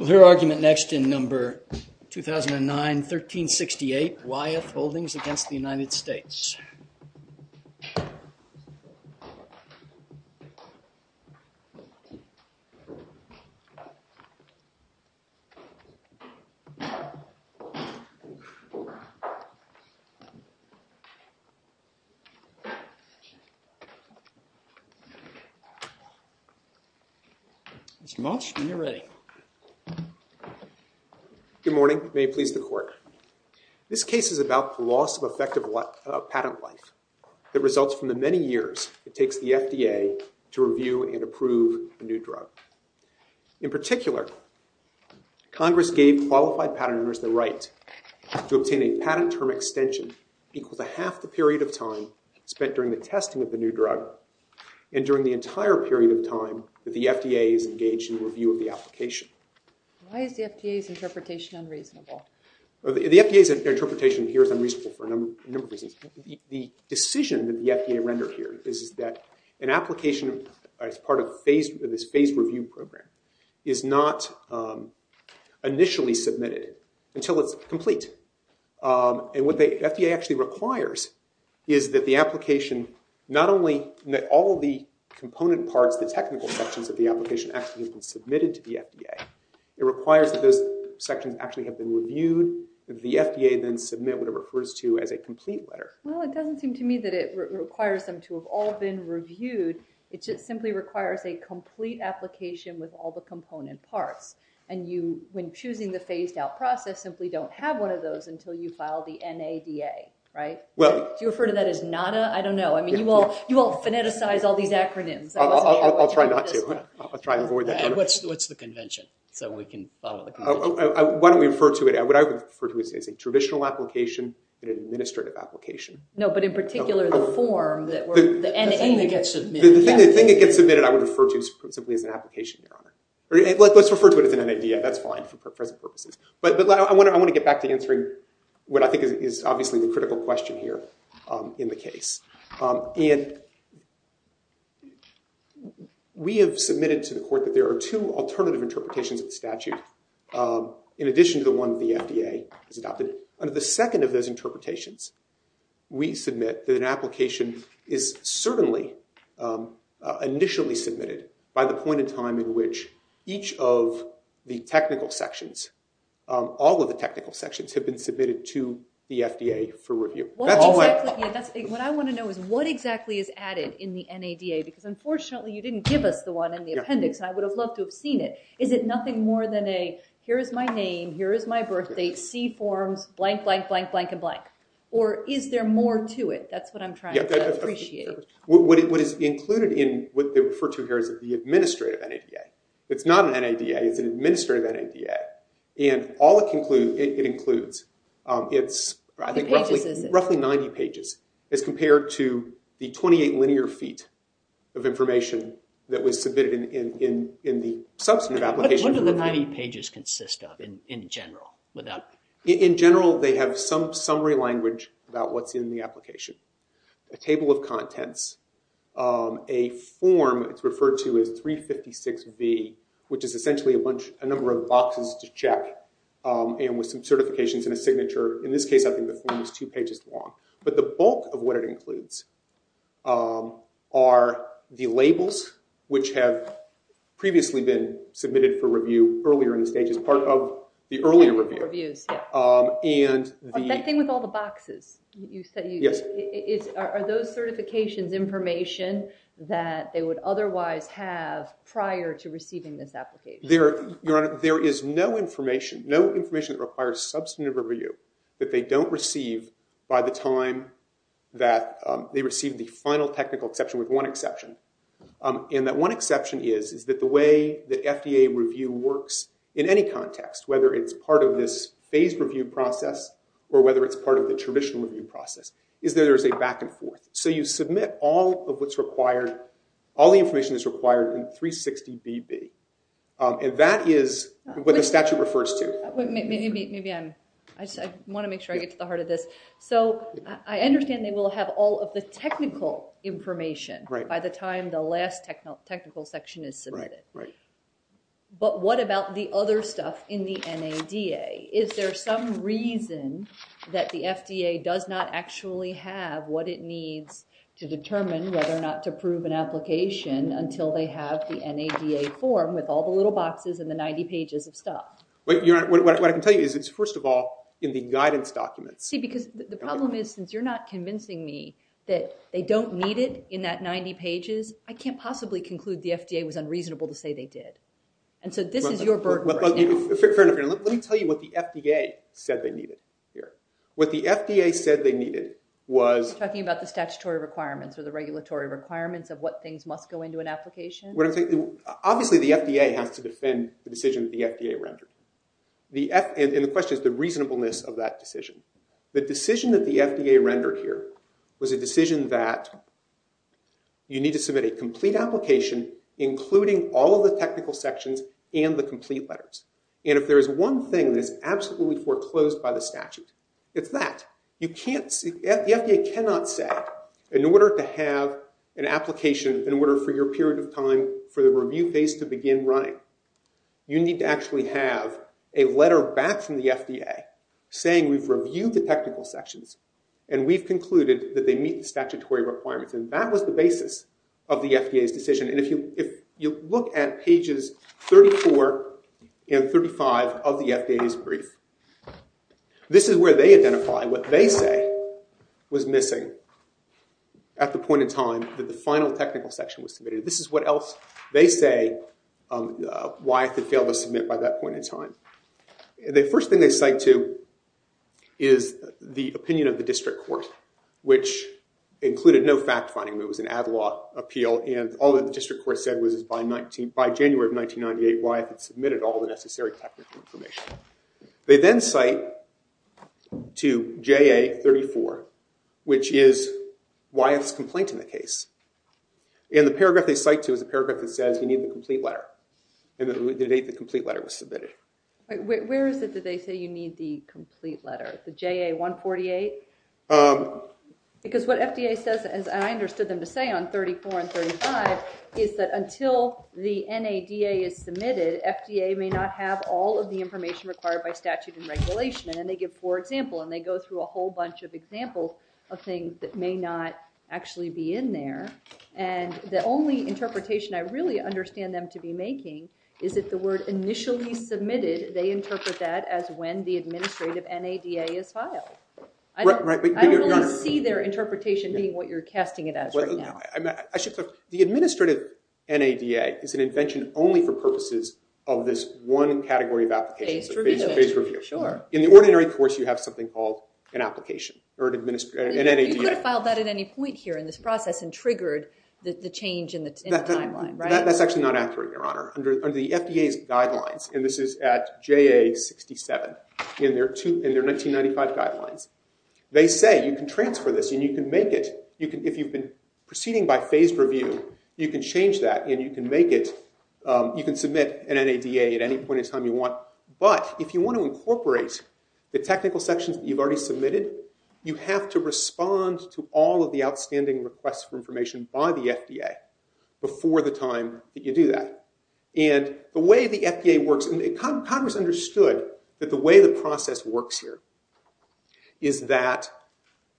2009 1368 Y.F. Holdings v. United States Good morning, may it please the court. This case is about the loss of effective patent life that results from the many years it takes the FDA to review and approve a new drug. In particular, Congress gave qualified patent owners the right to obtain a patent term extension equal to half the period of time spent during the testing of the new drug and during the entire period of time that the FDA is engaged in review of the application. Why is the FDA's interpretation unreasonable? The FDA's interpretation here is unreasonable for a number of reasons. The decision that the FDA rendered here is that an application as part of this phased review program is not initially submitted until it's complete. And what the FDA actually requires is that the application not only all of the component parts, the technical sections of the application actually have been submitted to the FDA. It requires that those sections actually have been reviewed. The FDA then submit what it refers to as a complete letter. Well, it doesn't seem to me that it requires them to have all been reviewed. It just simply requires a complete application with all the component parts. And you, when choosing the phased out process, simply don't have one of those until you file the NADA, right? Do you refer to that as NADA? I don't know. I mean, you all phoneticize all these acronyms. I'll try not to. I'll try to avoid that. What's the convention? So we can follow the convention. Why don't we refer to it? What I would refer to it as a traditional application, an administrative application. No, but in particular, the form, the NADA. The thing that gets submitted. The thing that gets submitted I would refer to simply as an application, Your Honor. Let's refer to it as an NADA. That's fine for present purposes. But I want to get back to answering what I think is obviously the critical question here in the case. And we have submitted to the court that there are two alternative interpretations of the statute, in addition to the one the FDA has adopted. Under the second of those interpretations, we submit that an application is certainly initially submitted by the point in time in which each of the technical sections, all of the technical sections, have been submitted to the FDA for review. What I want to know is what exactly is added in the NADA? Because unfortunately, you didn't give us the one in the appendix, and I would have loved to have seen it. Is it nothing more than a, here is my name, here is my birthdate, see forms, blank, blank, blank, blank, and blank? Or is there more to it? That's what I'm trying to appreciate. What is included in what they refer to here is the administrative NADA. It's not an NADA. It's an administrative NADA. And all it includes, it's roughly 90 pages as compared to the 28 linear feet of information that was submitted in the substantive application. What do the 90 pages consist of in general? In general, they have some summary language about what's in the application, a table of to check, and with some certifications and a signature. In this case, I think the form is two pages long. But the bulk of what it includes are the labels, which have previously been submitted for review earlier in the stages, part of the earlier review. Reviews, yeah. That thing with all the boxes. Yes. Are those certifications information that they would otherwise have prior to receiving this application? Your Honor, there is no information that requires substantive review that they don't receive by the time that they receive the final technical exception, with one exception. And that one exception is that the way that FDA review works in any context, whether it's part of this phased review process or whether it's part of the traditional review process, is there is a back and forth. So you submit all of what's required, all the information that's required in 360BB. And that is what the statute refers to. Maybe I want to make sure I get to the heart of this. So I understand they will have all of the technical information by the time the last technical section is submitted. Right. But what about the other stuff in the NADA? Is there some reason that the FDA does not actually have what it needs to determine whether or not to approve an application until they have the NADA form with all the little boxes and the 90 pages of stuff? What I can tell you is it's, first of all, in the guidance documents. See, because the problem is, since you're not convincing me that they don't need it in that 90 pages, I can't possibly conclude the FDA was unreasonable to say they did. And so this is your burden right now. Fair enough. Let me tell you what the FDA said they needed here. What the FDA said they needed was- You're talking about the statutory requirements or the regulatory requirements of what things must go into an application? Obviously, the FDA has to defend the decision that the FDA rendered. And the question is the reasonableness of that decision. The decision that the FDA rendered here was a decision that you need to submit a complete application including all of the technical sections and the complete letters. And if there is one thing that is absolutely foreclosed by the statute, it's that. The FDA cannot say, in order to have an application, in order for your period of time for the review phase to begin running, you need to actually have a letter back from the FDA saying we've reviewed the technical sections and we've concluded that they meet the statutory requirements. And that was the basis of the FDA's decision. And if you look at pages 34 and 35 of the FDA's brief, this is where they identify what they say was missing at the point in time that the final technical section was submitted. This is what else they say Wyeth had failed to submit by that point in time. The first thing they cite to is the opinion of the district court, which included no fact-finding. It was an ad law appeal. And all that the district court said was by January of 1998, Wyeth had submitted all the necessary technical information. They then cite to JA 34, which is Wyeth's complaint in the case. And the paragraph they cite to is a paragraph that says you need the complete letter. And the date the complete letter was submitted. Where is it that they say you need the complete letter? The JA 148? Because what FDA says, as I understood them to say on 34 and 35, is that until the NADA is submitted, FDA may not have all of the information required by statute and regulation. And they give poor example. And they go through a whole bunch of examples of things that may not actually be in there. And the only interpretation I really understand them to be making is that the word initially submitted, they interpret that as when the administrative NADA is filed. I don't really see their interpretation being what you're casting it as right now. The administrative NADA is an invention only for purposes of this one category of applications. In the ordinary course, you have something called an application or an NADA. You could have filed that at any point here in this process and triggered the change in the timeline, right? That's actually not accurate, Your Honor. Under the FDA's guidelines, and this is at JA 67, in their 1995 guidelines, they say you can transfer this and you can make it, if you've been proceeding by phased review, you can change that and you can make it, you can submit an NADA at any point in time you want. But if you want to incorporate the technical sections that you've already submitted, you have to respond to all of the outstanding requests for information by the FDA before the time that you do that. And the way the FDA works, and Congress understood that the way the process works here, is that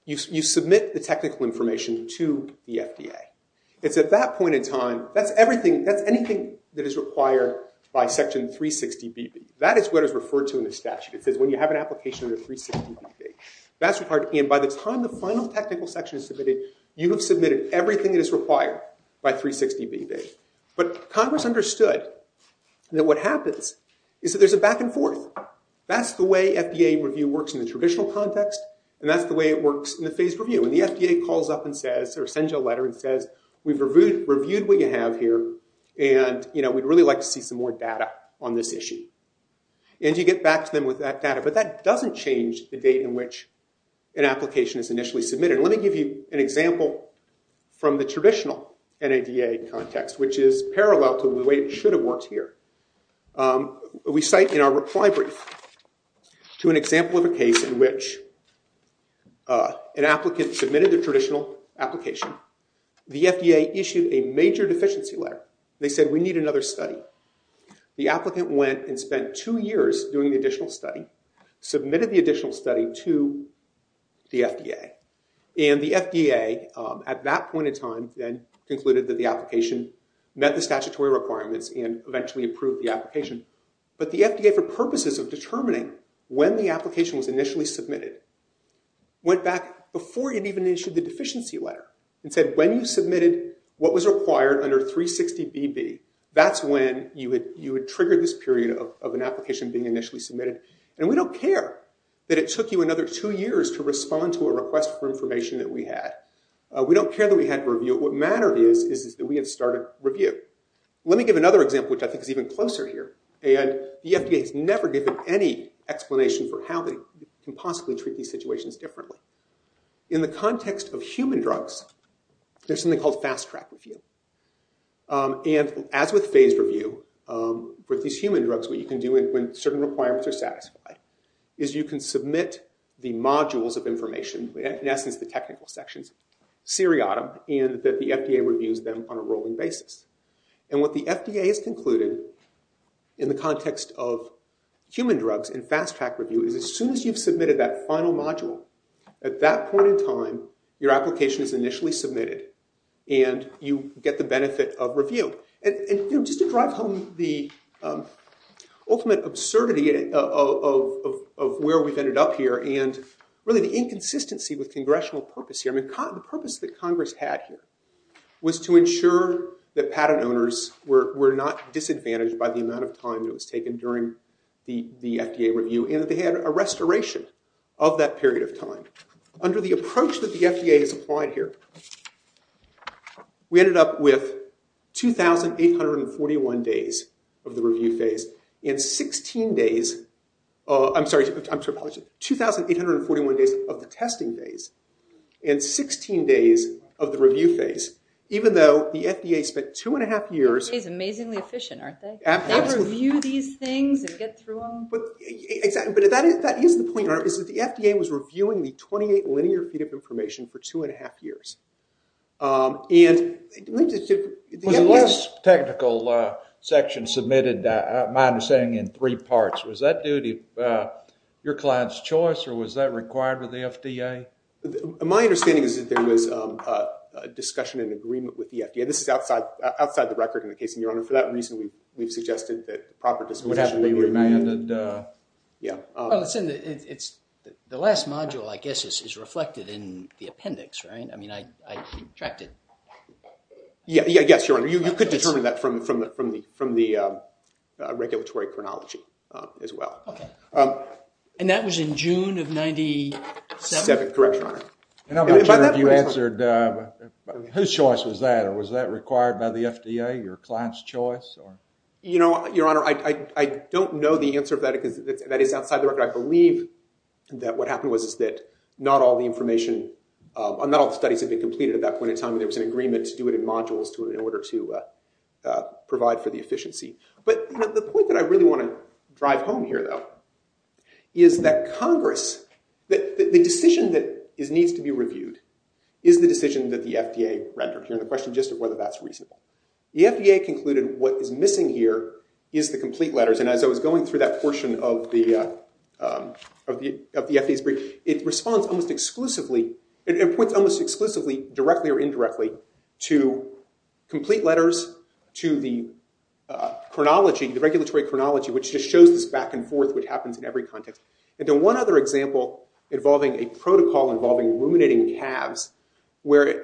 you submit the technical information to the FDA. It's at that point in time, that's everything, that's anything that is required by Section 360BB. That is what is referred to in the statute. It says when you have an application under 360BB, that's required. And by the time the final technical section is submitted, you have submitted everything that is required by 360BB. But Congress understood that what happens is that there's a back and forth. That's the way FDA review works in the traditional context, and that's the way it works in the phased review. And the FDA calls up and says, or sends you a letter and says, we've reviewed what you have here, and we'd really like to see some more data on this issue. And you get back to them with that data. But that doesn't change the date in which an application is initially submitted. Let me give you an example from the traditional NADA context, which is parallel to the way it should have worked here. We cite in our reply brief to an example of a case in which an applicant submitted their traditional application. The FDA issued a major deficiency letter. They said, we need another study. The applicant went and spent two years doing the additional study, submitted the additional study to the FDA. And the FDA, at that point in time, then concluded that the application met the statutory requirements and eventually approved the application. But the FDA, for purposes of determining when the application was initially submitted, went back before it even issued the deficiency letter and said, when you submitted what was required under 360 BB, that's when you would trigger this period of an application being initially submitted. And we don't care that it took you another two years to respond to a request for information that we had. We don't care that we had to review it. What mattered is that we had started review. Let me give another example, which I think is even closer here. And the FDA has never given any explanation for how they can possibly treat these situations differently. In the context of human drugs, there's something called fast track review. And as with phased review, with these human drugs, what you can do when certain requirements are satisfied, is you can submit the modules of information, in essence the technical sections, seriatim, and that the FDA reviews them on a rolling basis. And what the FDA has concluded, in the context of human drugs and fast track review, is as soon as you've submitted that final module, at that point in time, your application is initially submitted, and you get the benefit of review. And just to drive home the ultimate absurdity of where we've ended up here, and really the inconsistency with congressional purpose here, the purpose that Congress had here was to ensure that patent owners were not disadvantaged by the amount of time that was taken during the FDA review, and that they had a restoration of that period of time. Under the approach that the FDA has applied here, we ended up with 2,841 days of the review phase, and 16 days, I'm sorry, 2,841 days of the testing phase, and 16 days of the review phase. Even though the FDA spent two and a half years... The FDA's amazingly efficient, aren't they? Absolutely. They review these things and get through them. But that is the point, Your Honor, is that the FDA was reviewing the 28 linear feet of information for two and a half years. The last technical section submitted, my understanding, in three parts. Was that due to your client's choice, or was that required with the FDA? My understanding is that there was a discussion and agreement with the FDA. This is outside the record in the case, and Your Honor, for that reason, we've suggested that proper discussion... Well, it's in the... The last module, I guess, is reflected in the appendix, right? I mean, I tracked it. Yes, Your Honor. You could determine that from the regulatory chronology as well. Okay. And that was in June of 1997? Correct, Your Honor. And I'm not sure if you answered, whose choice was that, or was that required by the FDA, your client's choice? You know, Your Honor, I don't know the answer to that, because that is outside the record. I believe that what happened was that not all the information... Not all the studies had been completed at that point in time, and there was an agreement to do it in modules in order to provide for the efficiency. But the point that I really want to drive home here, though, is that Congress... The decision that needs to be reviewed is the decision that the FDA rendered. You're in the question just of whether that's reasonable. The FDA concluded what is missing here is the complete letters. And as I was going through that portion of the FDA's brief, it responds almost exclusively... It points almost exclusively, directly or indirectly, to complete letters, to the chronology, the regulatory chronology, which just shows this back and forth, which happens in every context. And then one other example involving a protocol involving ruminating calves, where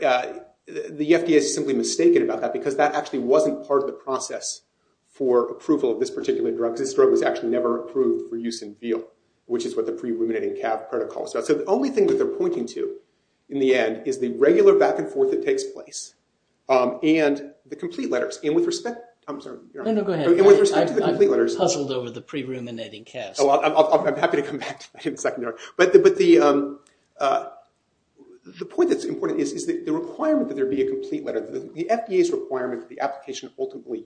the FDA is simply mistaken about that, because that actually wasn't part of the process for approval of this particular drug. This drug was actually never approved for use in veal, which is what the pre-ruminating calf protocol is about. So the only thing that they're pointing to, in the end, is the regular back and forth that takes place, and the complete letters. And with respect... I'm sorry, Your Honor. No, no, go ahead. And with respect to the complete letters... I've puzzled over the pre-ruminating calves. I'm happy to come back to that in a second, Your Honor. But the point that's important is the requirement that there be a complete letter. The FDA's requirement that the application ultimately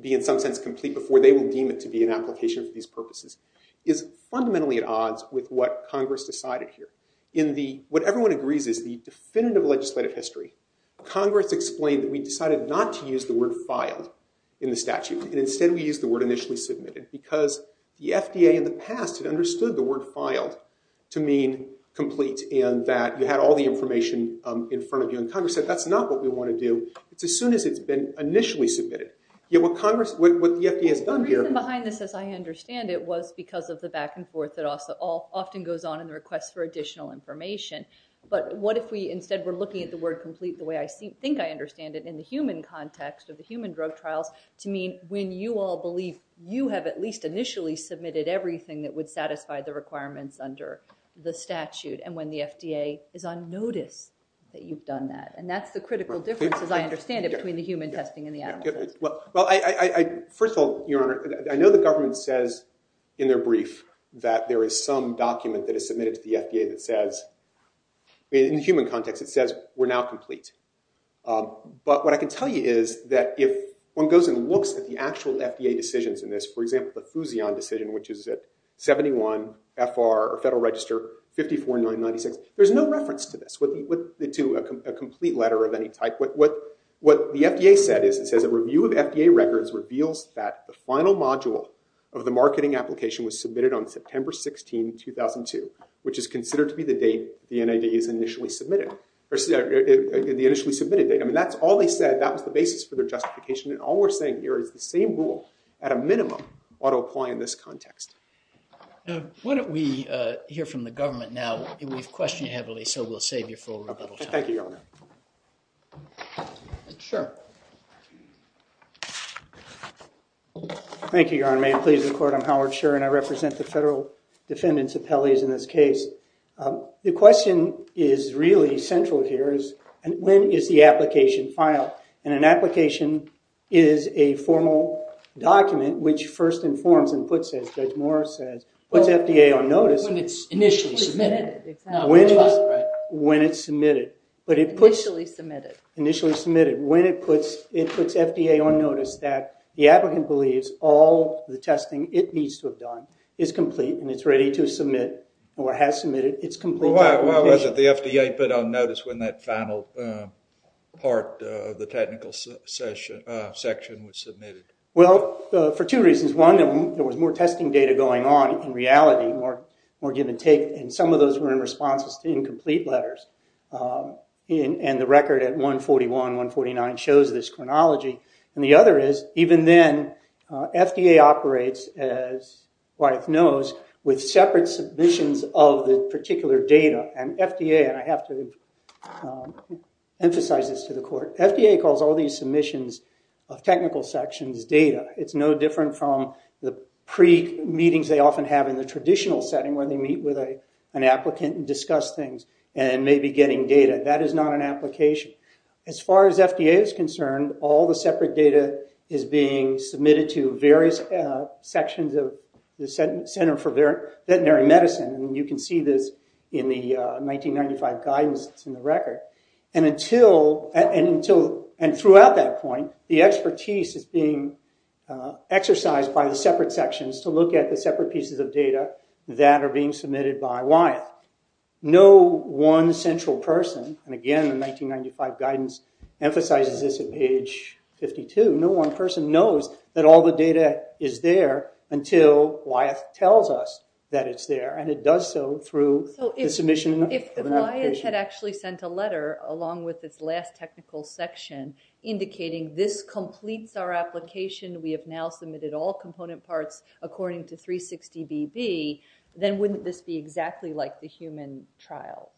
be, in some sense, complete before they will deem it to be an application for these purposes is fundamentally at odds with what Congress decided here. What everyone agrees is the definitive legislative history. Congress explained that we decided not to use the word filed in the statute, and instead we used the word initially submitted. Because the FDA, in the past, had understood the word filed to mean complete, and that you had all the information in front of you. And Congress said, that's not what we want to do. It's as soon as it's been initially submitted. Yet what the FDA has done here... The reason behind this, as I understand it, was because of the back and forth that often goes on in the request for additional information. But what if we instead were looking at the word complete the way I think I understand it, in the human context of the human drug trials, to mean when you all believe you have at least initially submitted everything that would satisfy the requirements under the statute, and when the FDA is on notice that you've done that. And that's the critical difference, as I understand it, between the human testing and the animal testing. Well, first of all, Your Honor, I know the government says in their brief that there is some document that is submitted to the FDA that says, in the human context, it says we're now complete. But what I can tell you is that if one goes and looks at the actual FDA decisions in this, for example, the Fouzion decision, which is at 71 FR, or Federal Register, 54996, there's no reference to this, to a complete letter of any type. What the FDA said is it says a review of FDA records reveals that the final module of the marketing application was submitted on September 16, 2002, which is considered to be the date the NID is initially submitted, the initially submitted date. I mean, that's all they said. That was the basis for their justification. And all we're saying here is the same rule, at a minimum, ought to apply in this context. Why don't we hear from the government now? We've questioned you heavily, so we'll save you for a little time. Thank you, Your Honor. Sure. Thank you, Your Honor. May it please the Court, I'm Howard Scherr, and I represent the Federal Defendant's Appellees in this case. The question is really central here is when is the application filed? And an application is a formal document which first informs and puts it, as Judge Morris says, puts FDA on notice. When it's initially submitted. When it's submitted. Initially submitted. Initially submitted. When it puts FDA on notice that the applicant believes all the testing it needs to have done is complete and it's ready to submit or has submitted its complete documentation. Why was it the FDA put on notice when that final part of the technical section was submitted? Well, for two reasons. One, there was more testing data going on in reality, more give and take, and some of those were in responses to incomplete letters. And the record at 141, 149 shows this chronology. And the other is, even then, FDA operates, as Wyeth knows, with separate submissions of the particular data. And FDA, and I have to emphasize this to the Court, FDA calls all these submissions of technical sections data. It's no different from the pre-meetings they often have in the traditional setting when they meet with an applicant and discuss things and maybe getting data. That is not an application. As far as FDA is concerned, all the separate data is being submitted to various sections of the Center for Veterinary Medicine. And you can see this in the 1995 guidance that's in the record. And throughout that point, the expertise is being exercised by the separate sections to look at the separate pieces of data that are being submitted by Wyeth. No one central person, and again, the 1995 guidance emphasizes this at page 52, no one person knows that all the data is there until Wyeth tells us that it's there. And it does so through the submission of an application. If Wyeth had actually sent a letter along with its last technical section indicating, this completes our application, we have now submitted all component parts according to 360BB, then wouldn't this be exactly like the human trials?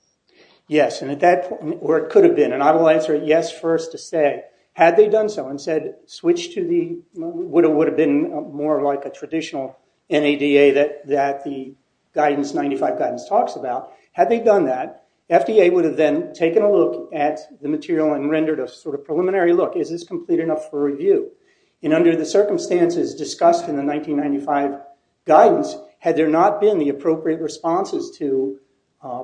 Yes, and at that point, or it could have been, and I will answer yes first to say, had they done so and said switch to the, what would have been more like a traditional NADA that the guidance, the 1995 guidance talks about, had they done that, FDA would have then taken a look at the material and rendered a sort of preliminary look. Is this complete enough for review? And under the circumstances discussed in the 1995 guidance, had there not been the appropriate responses to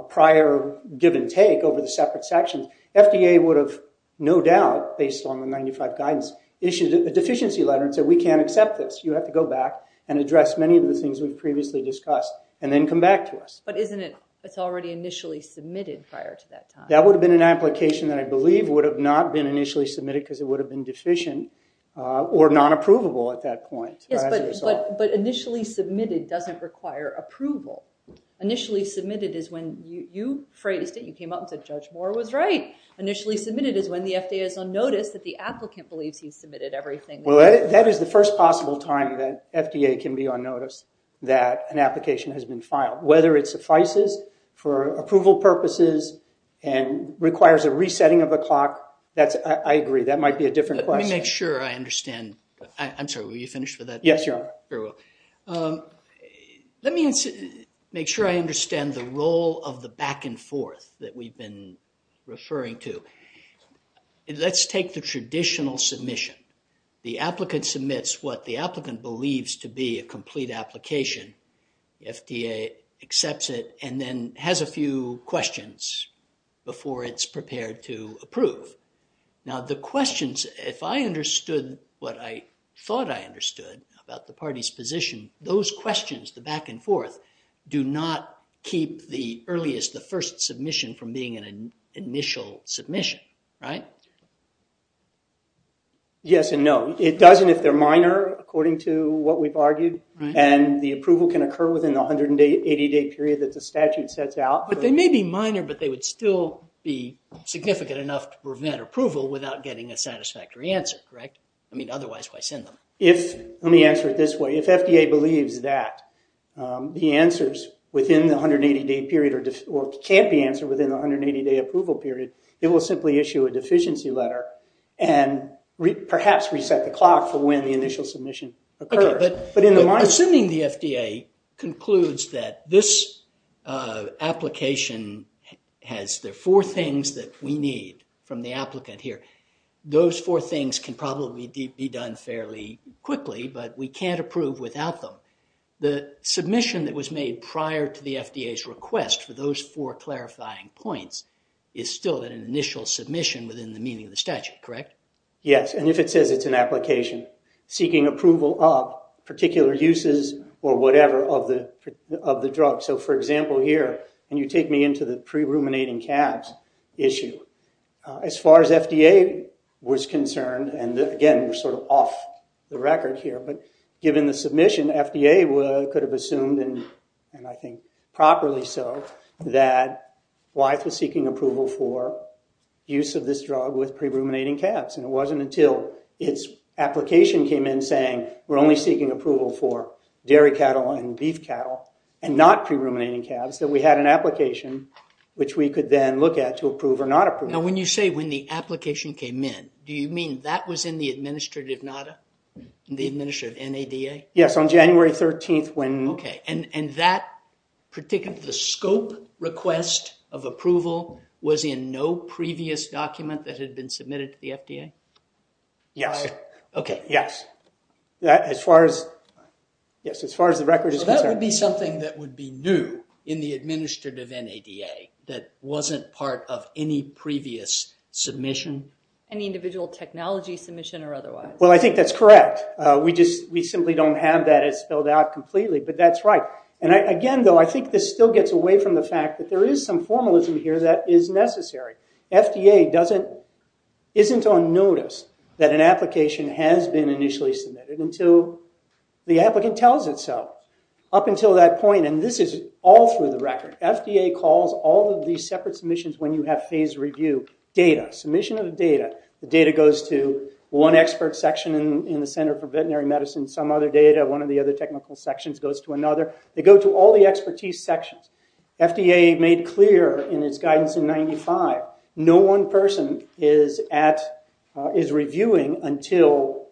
prior give and take over the separate sections, FDA would have no doubt, based on the 1995 guidance, issued a deficiency letter and said we can't accept this. You have to go back and address many of the things we've previously discussed and then come back to us. But isn't it, it's already initially submitted prior to that time. That would have been an application that I believe would have not been initially submitted because it would have been deficient or non-approvable at that point. Yes, but initially submitted doesn't require approval. Initially submitted is when you phrased it. You came up and said Judge Moore was right. Initially submitted is when the FDA is on notice that the applicant believes he's submitted everything. Well, that is the first possible time that FDA can be on notice that an application has been filed, whether it suffices for approval purposes and requires a resetting of the clock. That's, I agree, that might be a different question. Let me make sure I understand. I'm sorry, were you finished with that? Yes, Your Honor. Very well. Let me make sure I understand the role of the back and forth that we've been referring to. Let's take the traditional submission. The applicant submits what the applicant believes to be a complete application. The FDA accepts it and then has a few questions before it's prepared to approve. Now, the questions, if I understood what I thought I understood about the party's position, those questions, the back and forth, do not keep the earliest, the first submission from being an initial submission, right? Yes and no. It doesn't if they're minor, according to what we've argued, and the approval can occur within the 180-day period that the statute sets out. But they may be minor, but they would still be significant enough to prevent approval without getting a satisfactory answer, correct? I mean, otherwise, why send them? Let me answer it this way. If FDA believes that the answers within the 180-day period or can't be answered within the 180-day approval period, it will simply issue a deficiency letter and perhaps reset the clock for when the initial submission occurs. Assuming the FDA concludes that this application has the four things that we need from the applicant here, those four things can probably be done fairly quickly, but we can't approve without them. The submission that was made prior to the FDA's request for those four clarifying points is still an initial submission within the meaning of the statute, correct? Yes, and if it says it's an application seeking approval of particular uses or whatever of the drug. So, for example, here, and you take me into the pre-ruminating calves issue. As far as FDA was concerned, and again, we're sort of off the record here, but given the submission, FDA could have assumed, and I think properly so, that Wyeth was seeking approval for use of this drug with pre-ruminating calves, and it wasn't until its application came in saying we're only seeking approval for dairy cattle and beef cattle and not pre-ruminating calves that we had an application, which we could then look at to approve or not approve. Now, when you say when the application came in, do you mean that was in the administrative NADA? The administrative NADA? Yes, on January 13th when... Okay, and that particular scope request of approval was in no previous document that had been submitted to the FDA? Yes. Okay. Yes. As far as the record is concerned. That would be something that would be new in the administrative NADA that wasn't part of any previous submission? Any individual technology submission or otherwise. Well, I think that's correct. We simply don't have that as spelled out completely, but that's right. Again, though, I think this still gets away from the fact that there is some formalism here that is necessary. FDA isn't on notice that an application has been initially submitted until the applicant tells it so, up until that point. And this is all through the record. FDA calls all of these separate submissions when you have phase review data, submission of the data. The data goes to one expert section in the Center for Veterinary Medicine, some other data, one of the other technical sections goes to another. They go to all the expertise sections. FDA made clear in its guidance in 95, no one person is reviewing until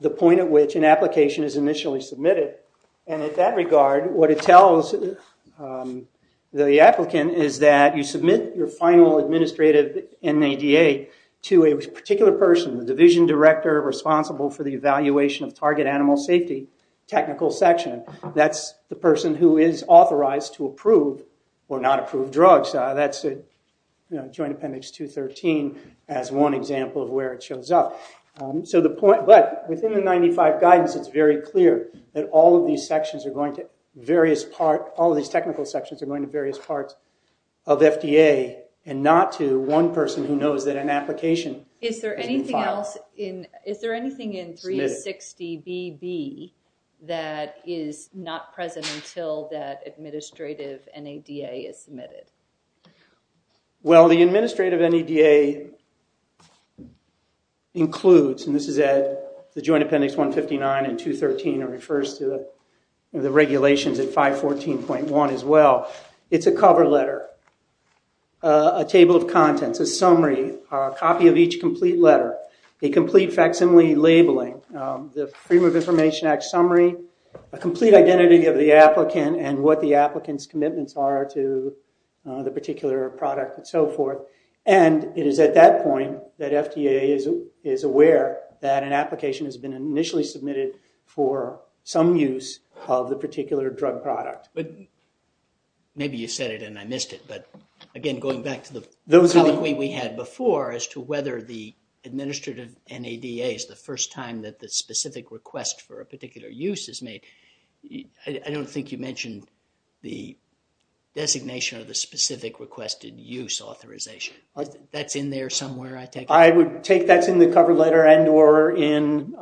the point at which an application is initially submitted. And in that regard, what it tells the applicant is that you submit your final administrative NADA to a particular person, the division director responsible for the evaluation of target animal safety, technical section. That's the person who is authorized to approve or not approve drugs. That's Joint Appendix 213 as one example of where it shows up. But within the 95 guidance, it's very clear that all of these technical sections are going to various parts of FDA and not to one person who knows that an application has been filed. Anything else? Is there anything in 360BB that is not present until that administrative NADA is submitted? Well, the administrative NADA includes, and this is at the Joint Appendix 159 and 213, it refers to the regulations at 514.1 as well. It's a cover letter, a table of contents, a summary, a copy of each complete letter, a complete facsimile labeling, the Freedom of Information Act summary, a complete identity of the applicant and what the applicant's commitments are to the particular product and so forth. And it is at that point that FDA is aware that an application has been initially submitted for some use of the particular drug product. Maybe you said it and I missed it. But again, going back to the colloquy we had before as to whether the administrative NADA is the first time that the specific request for a particular use is made, I don't think you mentioned the designation of the specific requested use authorization. I would take that's in the cover letter and or in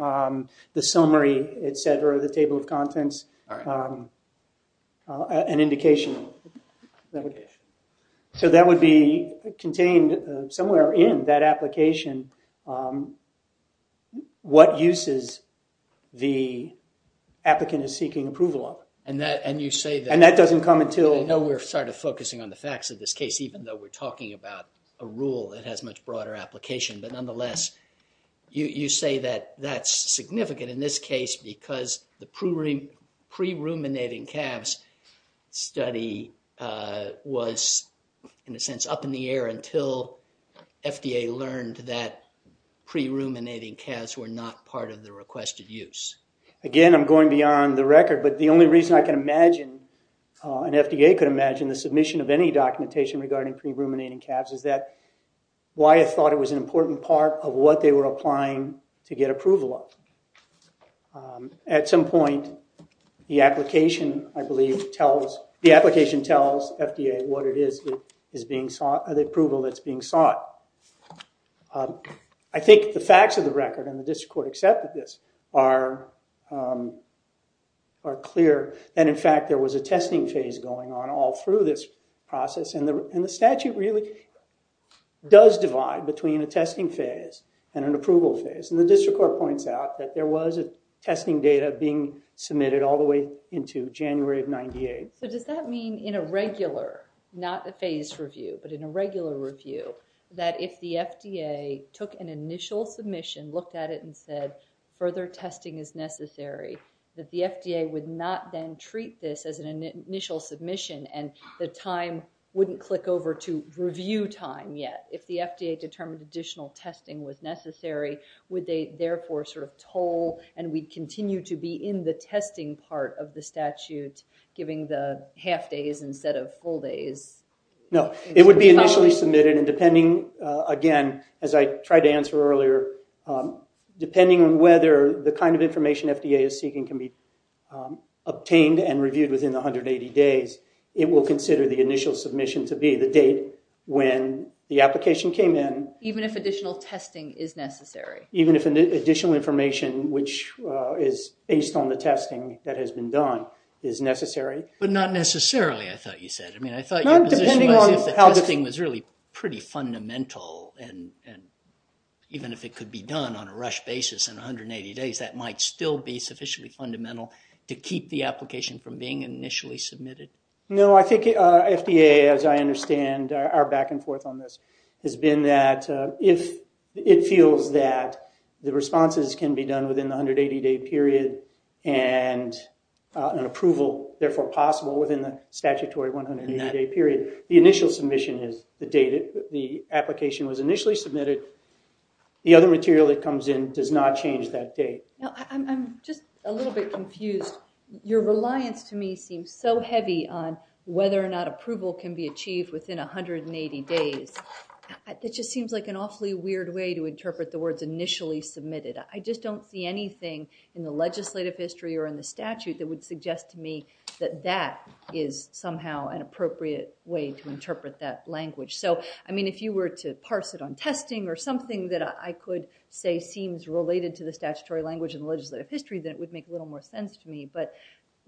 the summary, et cetera, the table of contents, an indication. So that would be contained somewhere in that application what uses the applicant is seeking approval of. And that doesn't come until... I'm talking about a rule that has much broader application. But nonetheless, you say that that's significant in this case because the pre-ruminating calves study was, in a sense, up in the air until FDA learned that pre-ruminating calves were not part of the requested use. Again, I'm going beyond the record. But the only reason I can imagine and FDA could imagine the submission of any documentation regarding pre-ruminating calves is that why I thought it was an important part of what they were applying to get approval of. At some point, the application, I believe, tells... the application tells FDA what it is that is being sought, the approval that's being sought. I think the facts of the record and the district court accepted this are clear. And in fact, there was a testing phase going on all through this process. And the statute really does divide between a testing phase and an approval phase. And the district court points out that there was a testing data being submitted all the way into January of 98. So does that mean in a regular, not a phase review, but in a regular review, that if the FDA took an initial submission, looked at it and said, further testing is necessary, that the FDA would not then treat this as an initial submission and the time wouldn't click over to review time yet? If the FDA determined additional testing was necessary, would they therefore sort of toll and we'd continue to be in the testing part of the statute, giving the half days instead of full days? No. It would be initially submitted and depending, again, as I tried to answer earlier, depending on whether the kind of information FDA is seeking can be obtained and reviewed within the 180 days, it will consider the initial submission to be the date when the application came in. Even if additional testing is necessary? Even if additional information, which is based on the testing that has been done, is necessary. But not necessarily, I thought you said. I mean, I thought your position was if the testing was really pretty fundamental and even if it could be done on a rush basis in 180 days, that might still be sufficiently fundamental to keep the application from being initially submitted. No, I think FDA, as I understand our back and forth on this, has been that if it feels that the responses can be done within the 180-day period and an approval therefore possible within the statutory 180-day period, the initial submission is the date the application was initially submitted. The other material that comes in does not change that date. I'm just a little bit confused. Your reliance to me seems so heavy on whether or not approval can be achieved within 180 days. It just seems like an awfully weird way to interpret the words initially submitted. I just don't see anything in the legislative history or in the statute that would suggest to me that that is somehow an appropriate way to interpret that language. So, I mean, if you were to parse it on testing or something that I could say seems related to the statutory language in the legislative history, then it would make a little more sense to me. But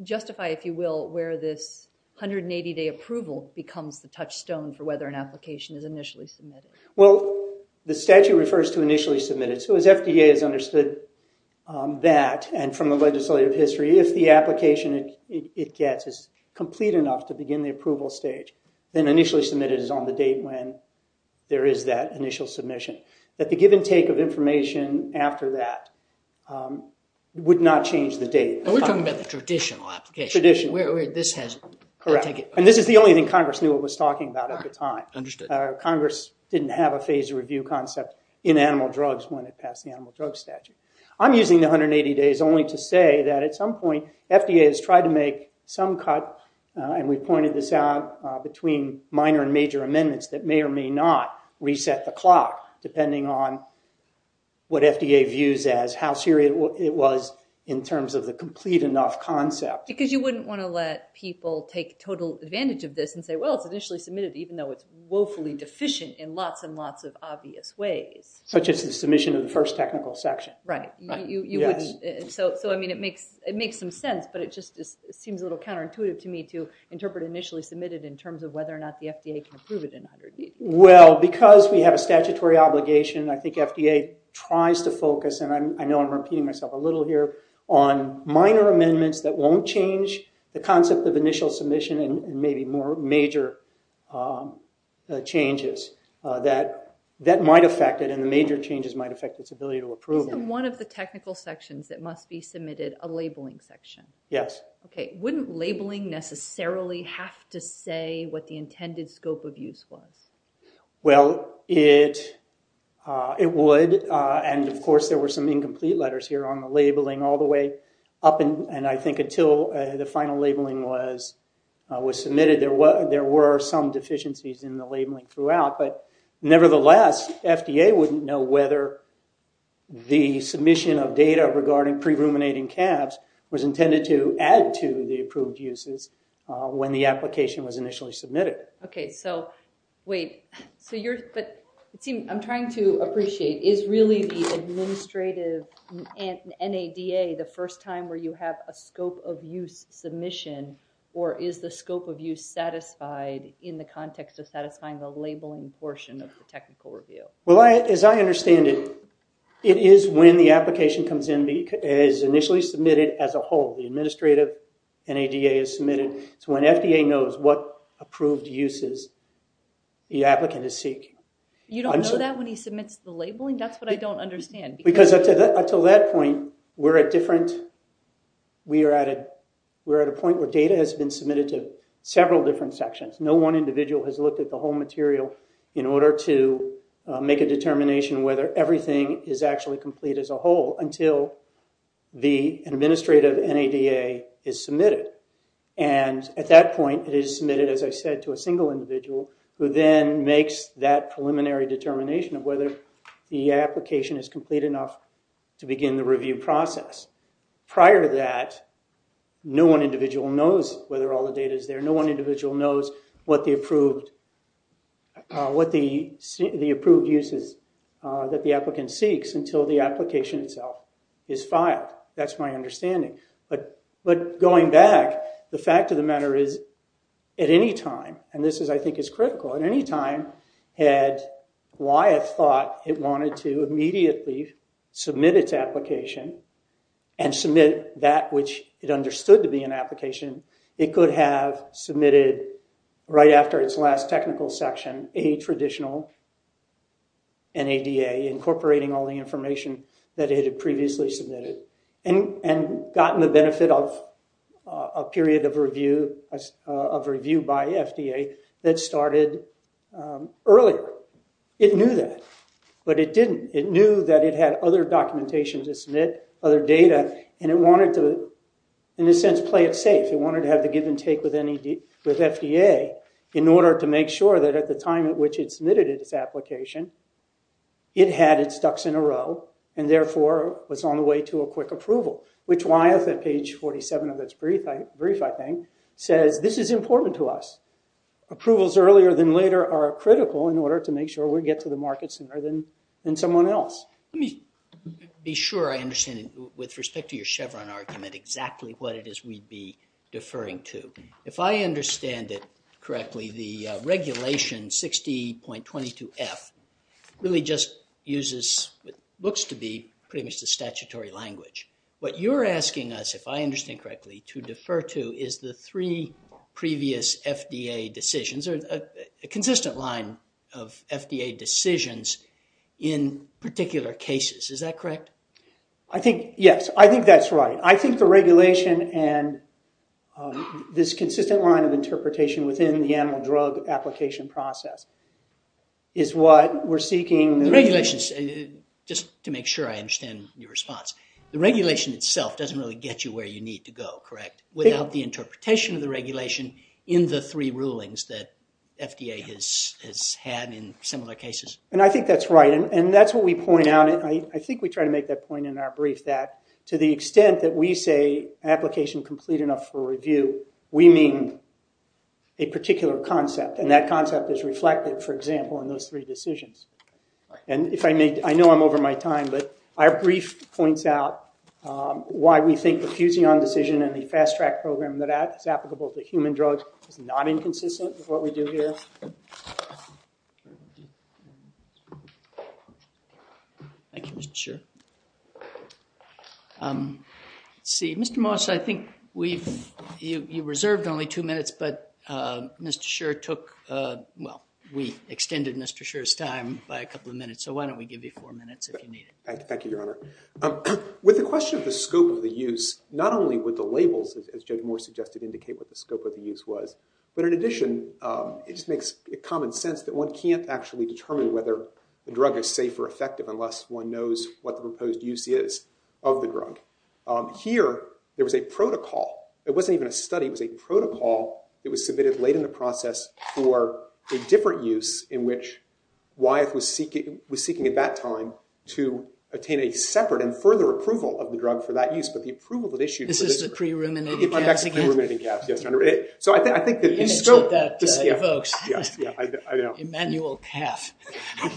justify, if you will, where this 180-day approval becomes the touchstone for whether an application is initially submitted. Well, the statute refers to initially submitted. So, as FDA has understood that and from the legislative history, if the application it gets is complete enough to begin the approval stage, then initially submitted is on the date when there is that initial submission. That the give and take of information after that would not change the date. We're talking about the traditional application. Traditional. Where this has... Correct. And this is the only thing Congress knew it was talking about at the time. Understood. Congress didn't have a phased review concept in animal drugs when it passed the animal drug statute. I'm using the 180 days only to say that at some point FDA has tried to make some cut, and we pointed this out, between minor and major amendments that may or may not reset the clock depending on what FDA views as how serious it was in terms of the complete enough concept. Because you wouldn't want to let people take total advantage of this and say, well, it's initially submitted even though it's woefully deficient in lots and lots of obvious ways. Such as the submission of the first technical section. Right. You wouldn't. So, I mean, it makes some sense, but it just seems a little counterintuitive to me to interpret initially submitted in terms of whether or not the FDA can approve it in 180 days. Well, because we have a statutory obligation, I think FDA tries to focus, and I know I'm repeating myself a little here, on minor amendments that won't change the concept of initial submission and maybe more major changes that might affect it, and the major changes might affect its ability to approve it. Isn't one of the technical sections that must be submitted a labeling section? Yes. Okay. Wouldn't labeling necessarily have to say what the intended scope of use was? Well, it would. And, of course, there were some incomplete letters here on the labeling all the way up, and I think until the final labeling was submitted, there were some deficiencies in the labeling throughout. But, nevertheless, FDA wouldn't know whether the submission of data regarding pre-ruminating calves was intended to add to the approved uses when the application was initially submitted. Okay. So, wait. So, you're, but, see, I'm trying to appreciate, is really the administrative NADA the first time where you have a scope of use submission, or is the scope of use satisfied in the context of satisfying the labeling portion of the technical review? Well, as I understand it, it is when the application comes in, is initially submitted as a whole. The administrative NADA is submitted. It's when FDA knows what approved uses the applicant is seeking. You don't know that when he submits the labeling? That's what I don't understand. Because up until that point, we're at different, we are at a point where data has been submitted to several different sections. No one individual has looked at the whole material in order to make a determination whether everything is actually complete as a whole until the administrative NADA is submitted. And at that point, it is submitted, as I said, to a single individual who then makes that preliminary determination of whether the application is complete enough to begin the review process. Prior to that, no one individual knows whether all the data is there. No one individual knows what the approved uses that the applicant seeks until the application itself is filed. That's my understanding. But going back, the fact of the matter is, at any time, and this I think is critical, at any time, had Wyeth thought it wanted to immediately submit its application and submit that which it understood to be an application, it could have submitted right after its last technical section a traditional NADA, incorporating all the information that it had previously submitted and gotten the benefit of a period of review by FDA that started earlier. It knew that, but it didn't. It knew that it had other documentation to submit, other data, and it wanted to, in a sense, play it safe. It wanted to have the give and take with FDA in order to make sure that at the time at which it submitted its application, it had its ducks in a row and therefore was on the way to a quick approval, which Wyeth at page 47 of its brief, I think, says this is important to us. Approvals earlier than later are critical in order to make sure we get to the market sooner than someone else. Let me be sure I understand it with respect to your Chevron argument exactly what it is we'd be deferring to. If I understand it correctly, the regulation 60.22F really just uses what looks to be pretty much the statutory language. What you're asking us, if I understand correctly, to defer to is the three previous FDA decisions, a consistent line of FDA decisions in particular cases. Is that correct? Yes, I think that's right. I think the regulation and this consistent line of interpretation within the animal drug application process is what we're seeking. The regulations, just to make sure I understand your response, the regulation itself doesn't really get you where you need to go, correct, without the interpretation of the regulation in the three rulings that FDA has had in similar cases? I think that's right, and that's what we point out. I think we try to make that point in our brief that to the extent that we say application complete enough for review, we mean a particular concept, and that concept is reflected, for example, in those three decisions. I know I'm over my time, but our brief points out why we think the Fusion decision and the Fast-Track program that is applicable to human drugs is not inconsistent with what we do here. Thank you, Mr. Scherr. Let's see, Mr. Moss, I think you reserved only two minutes, but Mr. Scherr took, well, we extended Mr. Scherr's time by a couple of minutes, so why don't we give you four minutes if you need it. Thank you, Your Honor. With the question of the scope of the use, not only would the labels, as Judge Moore suggested, indicate what the scope of the use was, but in addition, it just makes common sense that one can't actually determine whether a drug is safe or effective unless one knows what the proposed use is of the drug. Here, there was a protocol. It wasn't even a study, it was a protocol that was submitted late in the process for a different use in which Wyeth was seeking at that time to attain a separate and further approval of the drug for that use, but the approval that issued for this drug… This is the pre-ruminating caps again? I'm back to pre-ruminating caps, yes, Your Honor. So I think that the scope… The image that that evokes. Yes, I know. Immanuel calf.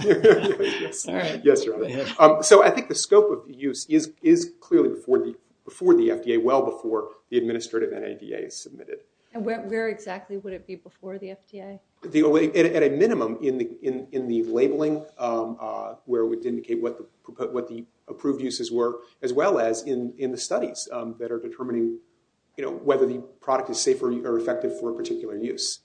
Yes, Your Honor. So I think the scope of the use is clearly before the FDA, well before the administrative NADA is submitted. And where exactly would it be before the FDA? At a minimum in the labeling where it would indicate what the approved uses were as well as in the studies that are determining whether the product is safe or effective for a particular use.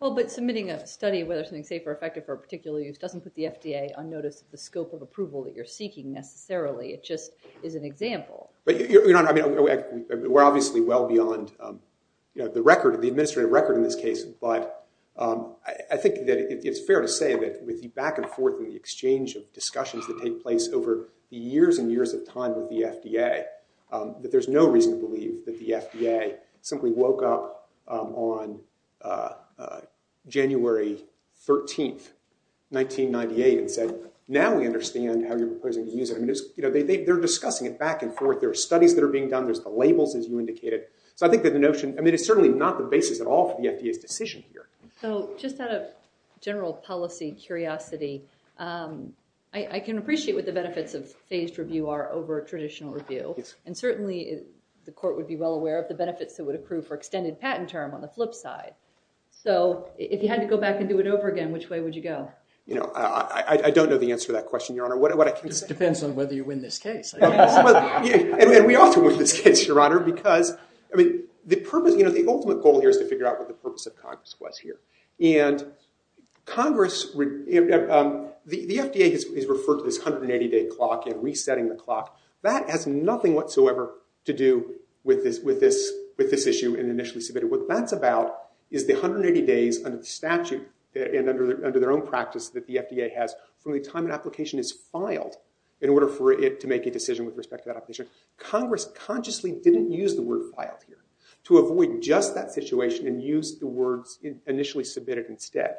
Well, but submitting a study of whether something is safe or effective for a particular use doesn't put the FDA on notice of the scope of approval that you're seeking necessarily. It just is an example. We're obviously well beyond the administrative record in this case, but I think that it's fair to say that with the back-and-forth and the exchange of discussions that take place over the years and years of time with the FDA, that there's no reason to believe that the FDA simply woke up on January 13, 1998, and said, now we understand how you're proposing to use it. They're discussing it back and forth. There are studies that are being done. There's the labels, as you indicated. So I think that the notion, I mean, it's certainly not the basis at all of the FDA's decision here. So just out of general policy curiosity, I can appreciate what the benefits of phased review are over traditional review. And certainly the court would be well aware of the benefits that would approve for extended patent term on the flip side. So if you had to go back and do it over again, which way would you go? I don't know the answer to that question, Your Honor. It depends on whether you win this case, I guess. And we also win this case, Your Honor, because the ultimate goal here is to figure out what the purpose of Congress was here. And the FDA has referred to this 180-day clock and resetting the clock. That has nothing whatsoever to do with this issue initially submitted. What that's about is the 180 days under the statute and under their own practice that the FDA has from the time an application is filed in order for it to make a decision with respect to that application. Congress consciously didn't use the word filed here to avoid just that situation and use the words initially submitted instead.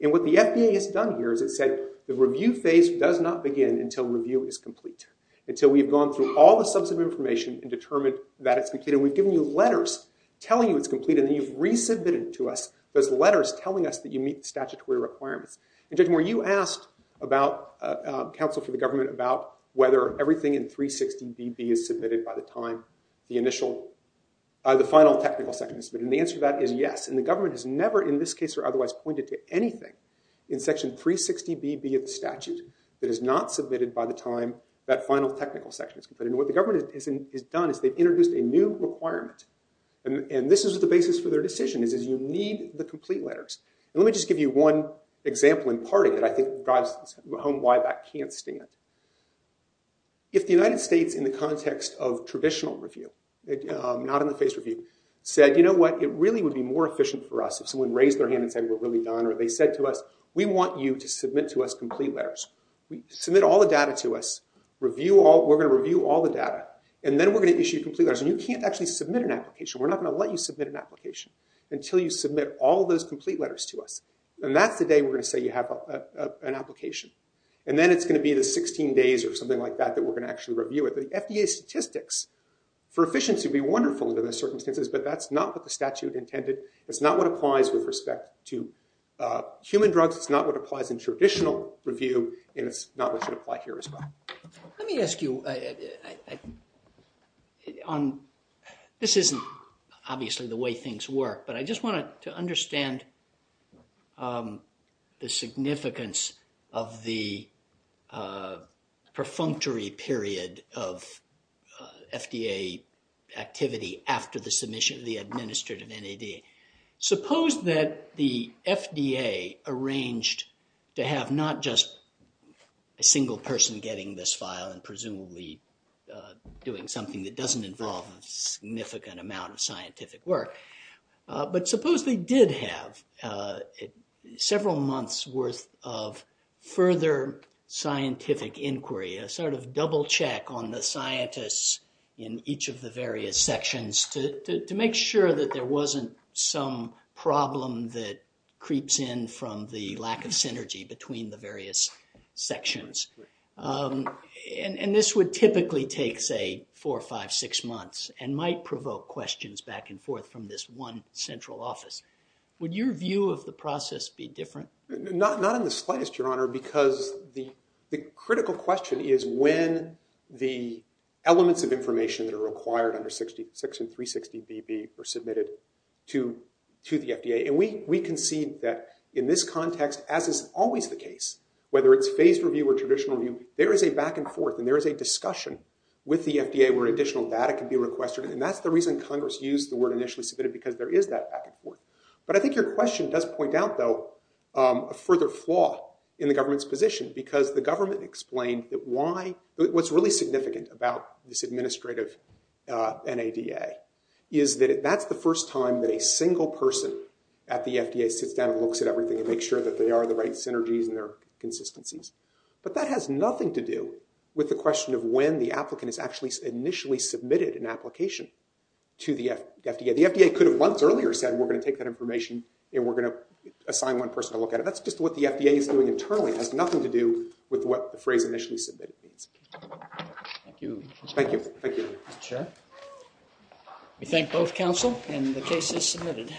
And what the FDA has done here is it said the review phase does not begin until review is complete, until we've gone through all the subs of information and determined that it's completed. We've given you letters telling you it's complete, and then you've resubmitted to us those letters telling us that you meet statutory requirements. And, Judge Moore, you asked counsel for the government about whether everything in 360BB is submitted by the time the final technical section is submitted. And the answer to that is yes. And the government has never in this case or otherwise pointed to anything in Section 360BB of the statute that is not submitted by the time that final technical section is completed. And what the government has done is they've introduced a new requirement. And this is the basis for their decision, is you need the complete letters. And let me just give you one example in part that I think drives home why that can't stand. If the United States in the context of traditional review, not in the phased review, said, you know what, it really would be more efficient for us if someone raised their hand and said, we're really done, or they said to us, we want you to submit to us complete letters. Submit all the data to us. We're going to review all the data. And then we're going to issue complete letters. And you can't actually submit an application. We're not going to let you submit an application until you submit all those complete letters to us. And that's the day we're going to say you have an application. And then it's going to be the 16 days or something like that that we're going to actually review it. The FDA statistics for efficiency would be wonderful under those circumstances, but that's not what the statute intended. It's not what applies with respect to human drugs. It's not what applies in traditional review. And it's not what should apply here as well. Let me ask you, this isn't obviously the way things work, but I just wanted to understand the significance of the perfunctory period of FDA activity after the submission of the administrative NAD. Suppose that the FDA arranged to have not just a single person getting this file and presumably doing something that doesn't involve a significant amount of scientific work, but supposedly did have several months worth of further scientific inquiry, a sort of double check on the scientists in each of the various sections to make sure that there wasn't some problem that creeps in from the lack of synergy between the various sections. And this would typically take, say, four, five, six months and might provoke questions back and forth from this one central office. Would your view of the process be different? Not in the slightest, Your Honor, because the critical question is when the elements of information that are required under section 360BB were submitted to the FDA. And we concede that in this context, as is always the case, whether it's phased review or traditional review, there is a back and forth and there is a discussion with the FDA where additional data can be requested. And that's the reason Congress used the word initially submitted, because there is that back and forth. But I think your question does point out, though, a further flaw in the government's position. Because the government explained that what's really significant about this administrative NADA is that that's the first time that a single person at the FDA sits down and looks at everything and makes sure that they are the right synergies and their consistencies. But that has nothing to do with the question of when the applicant has actually initially submitted an application to the FDA. The FDA could have months earlier said, we're going to take that information and we're going to assign one person to look at it. That's just what the FDA is doing internally. It has nothing to do with what the phrase initially submitted means. Thank you. Thank you. Thank you. We thank both counsel and the cases submitted.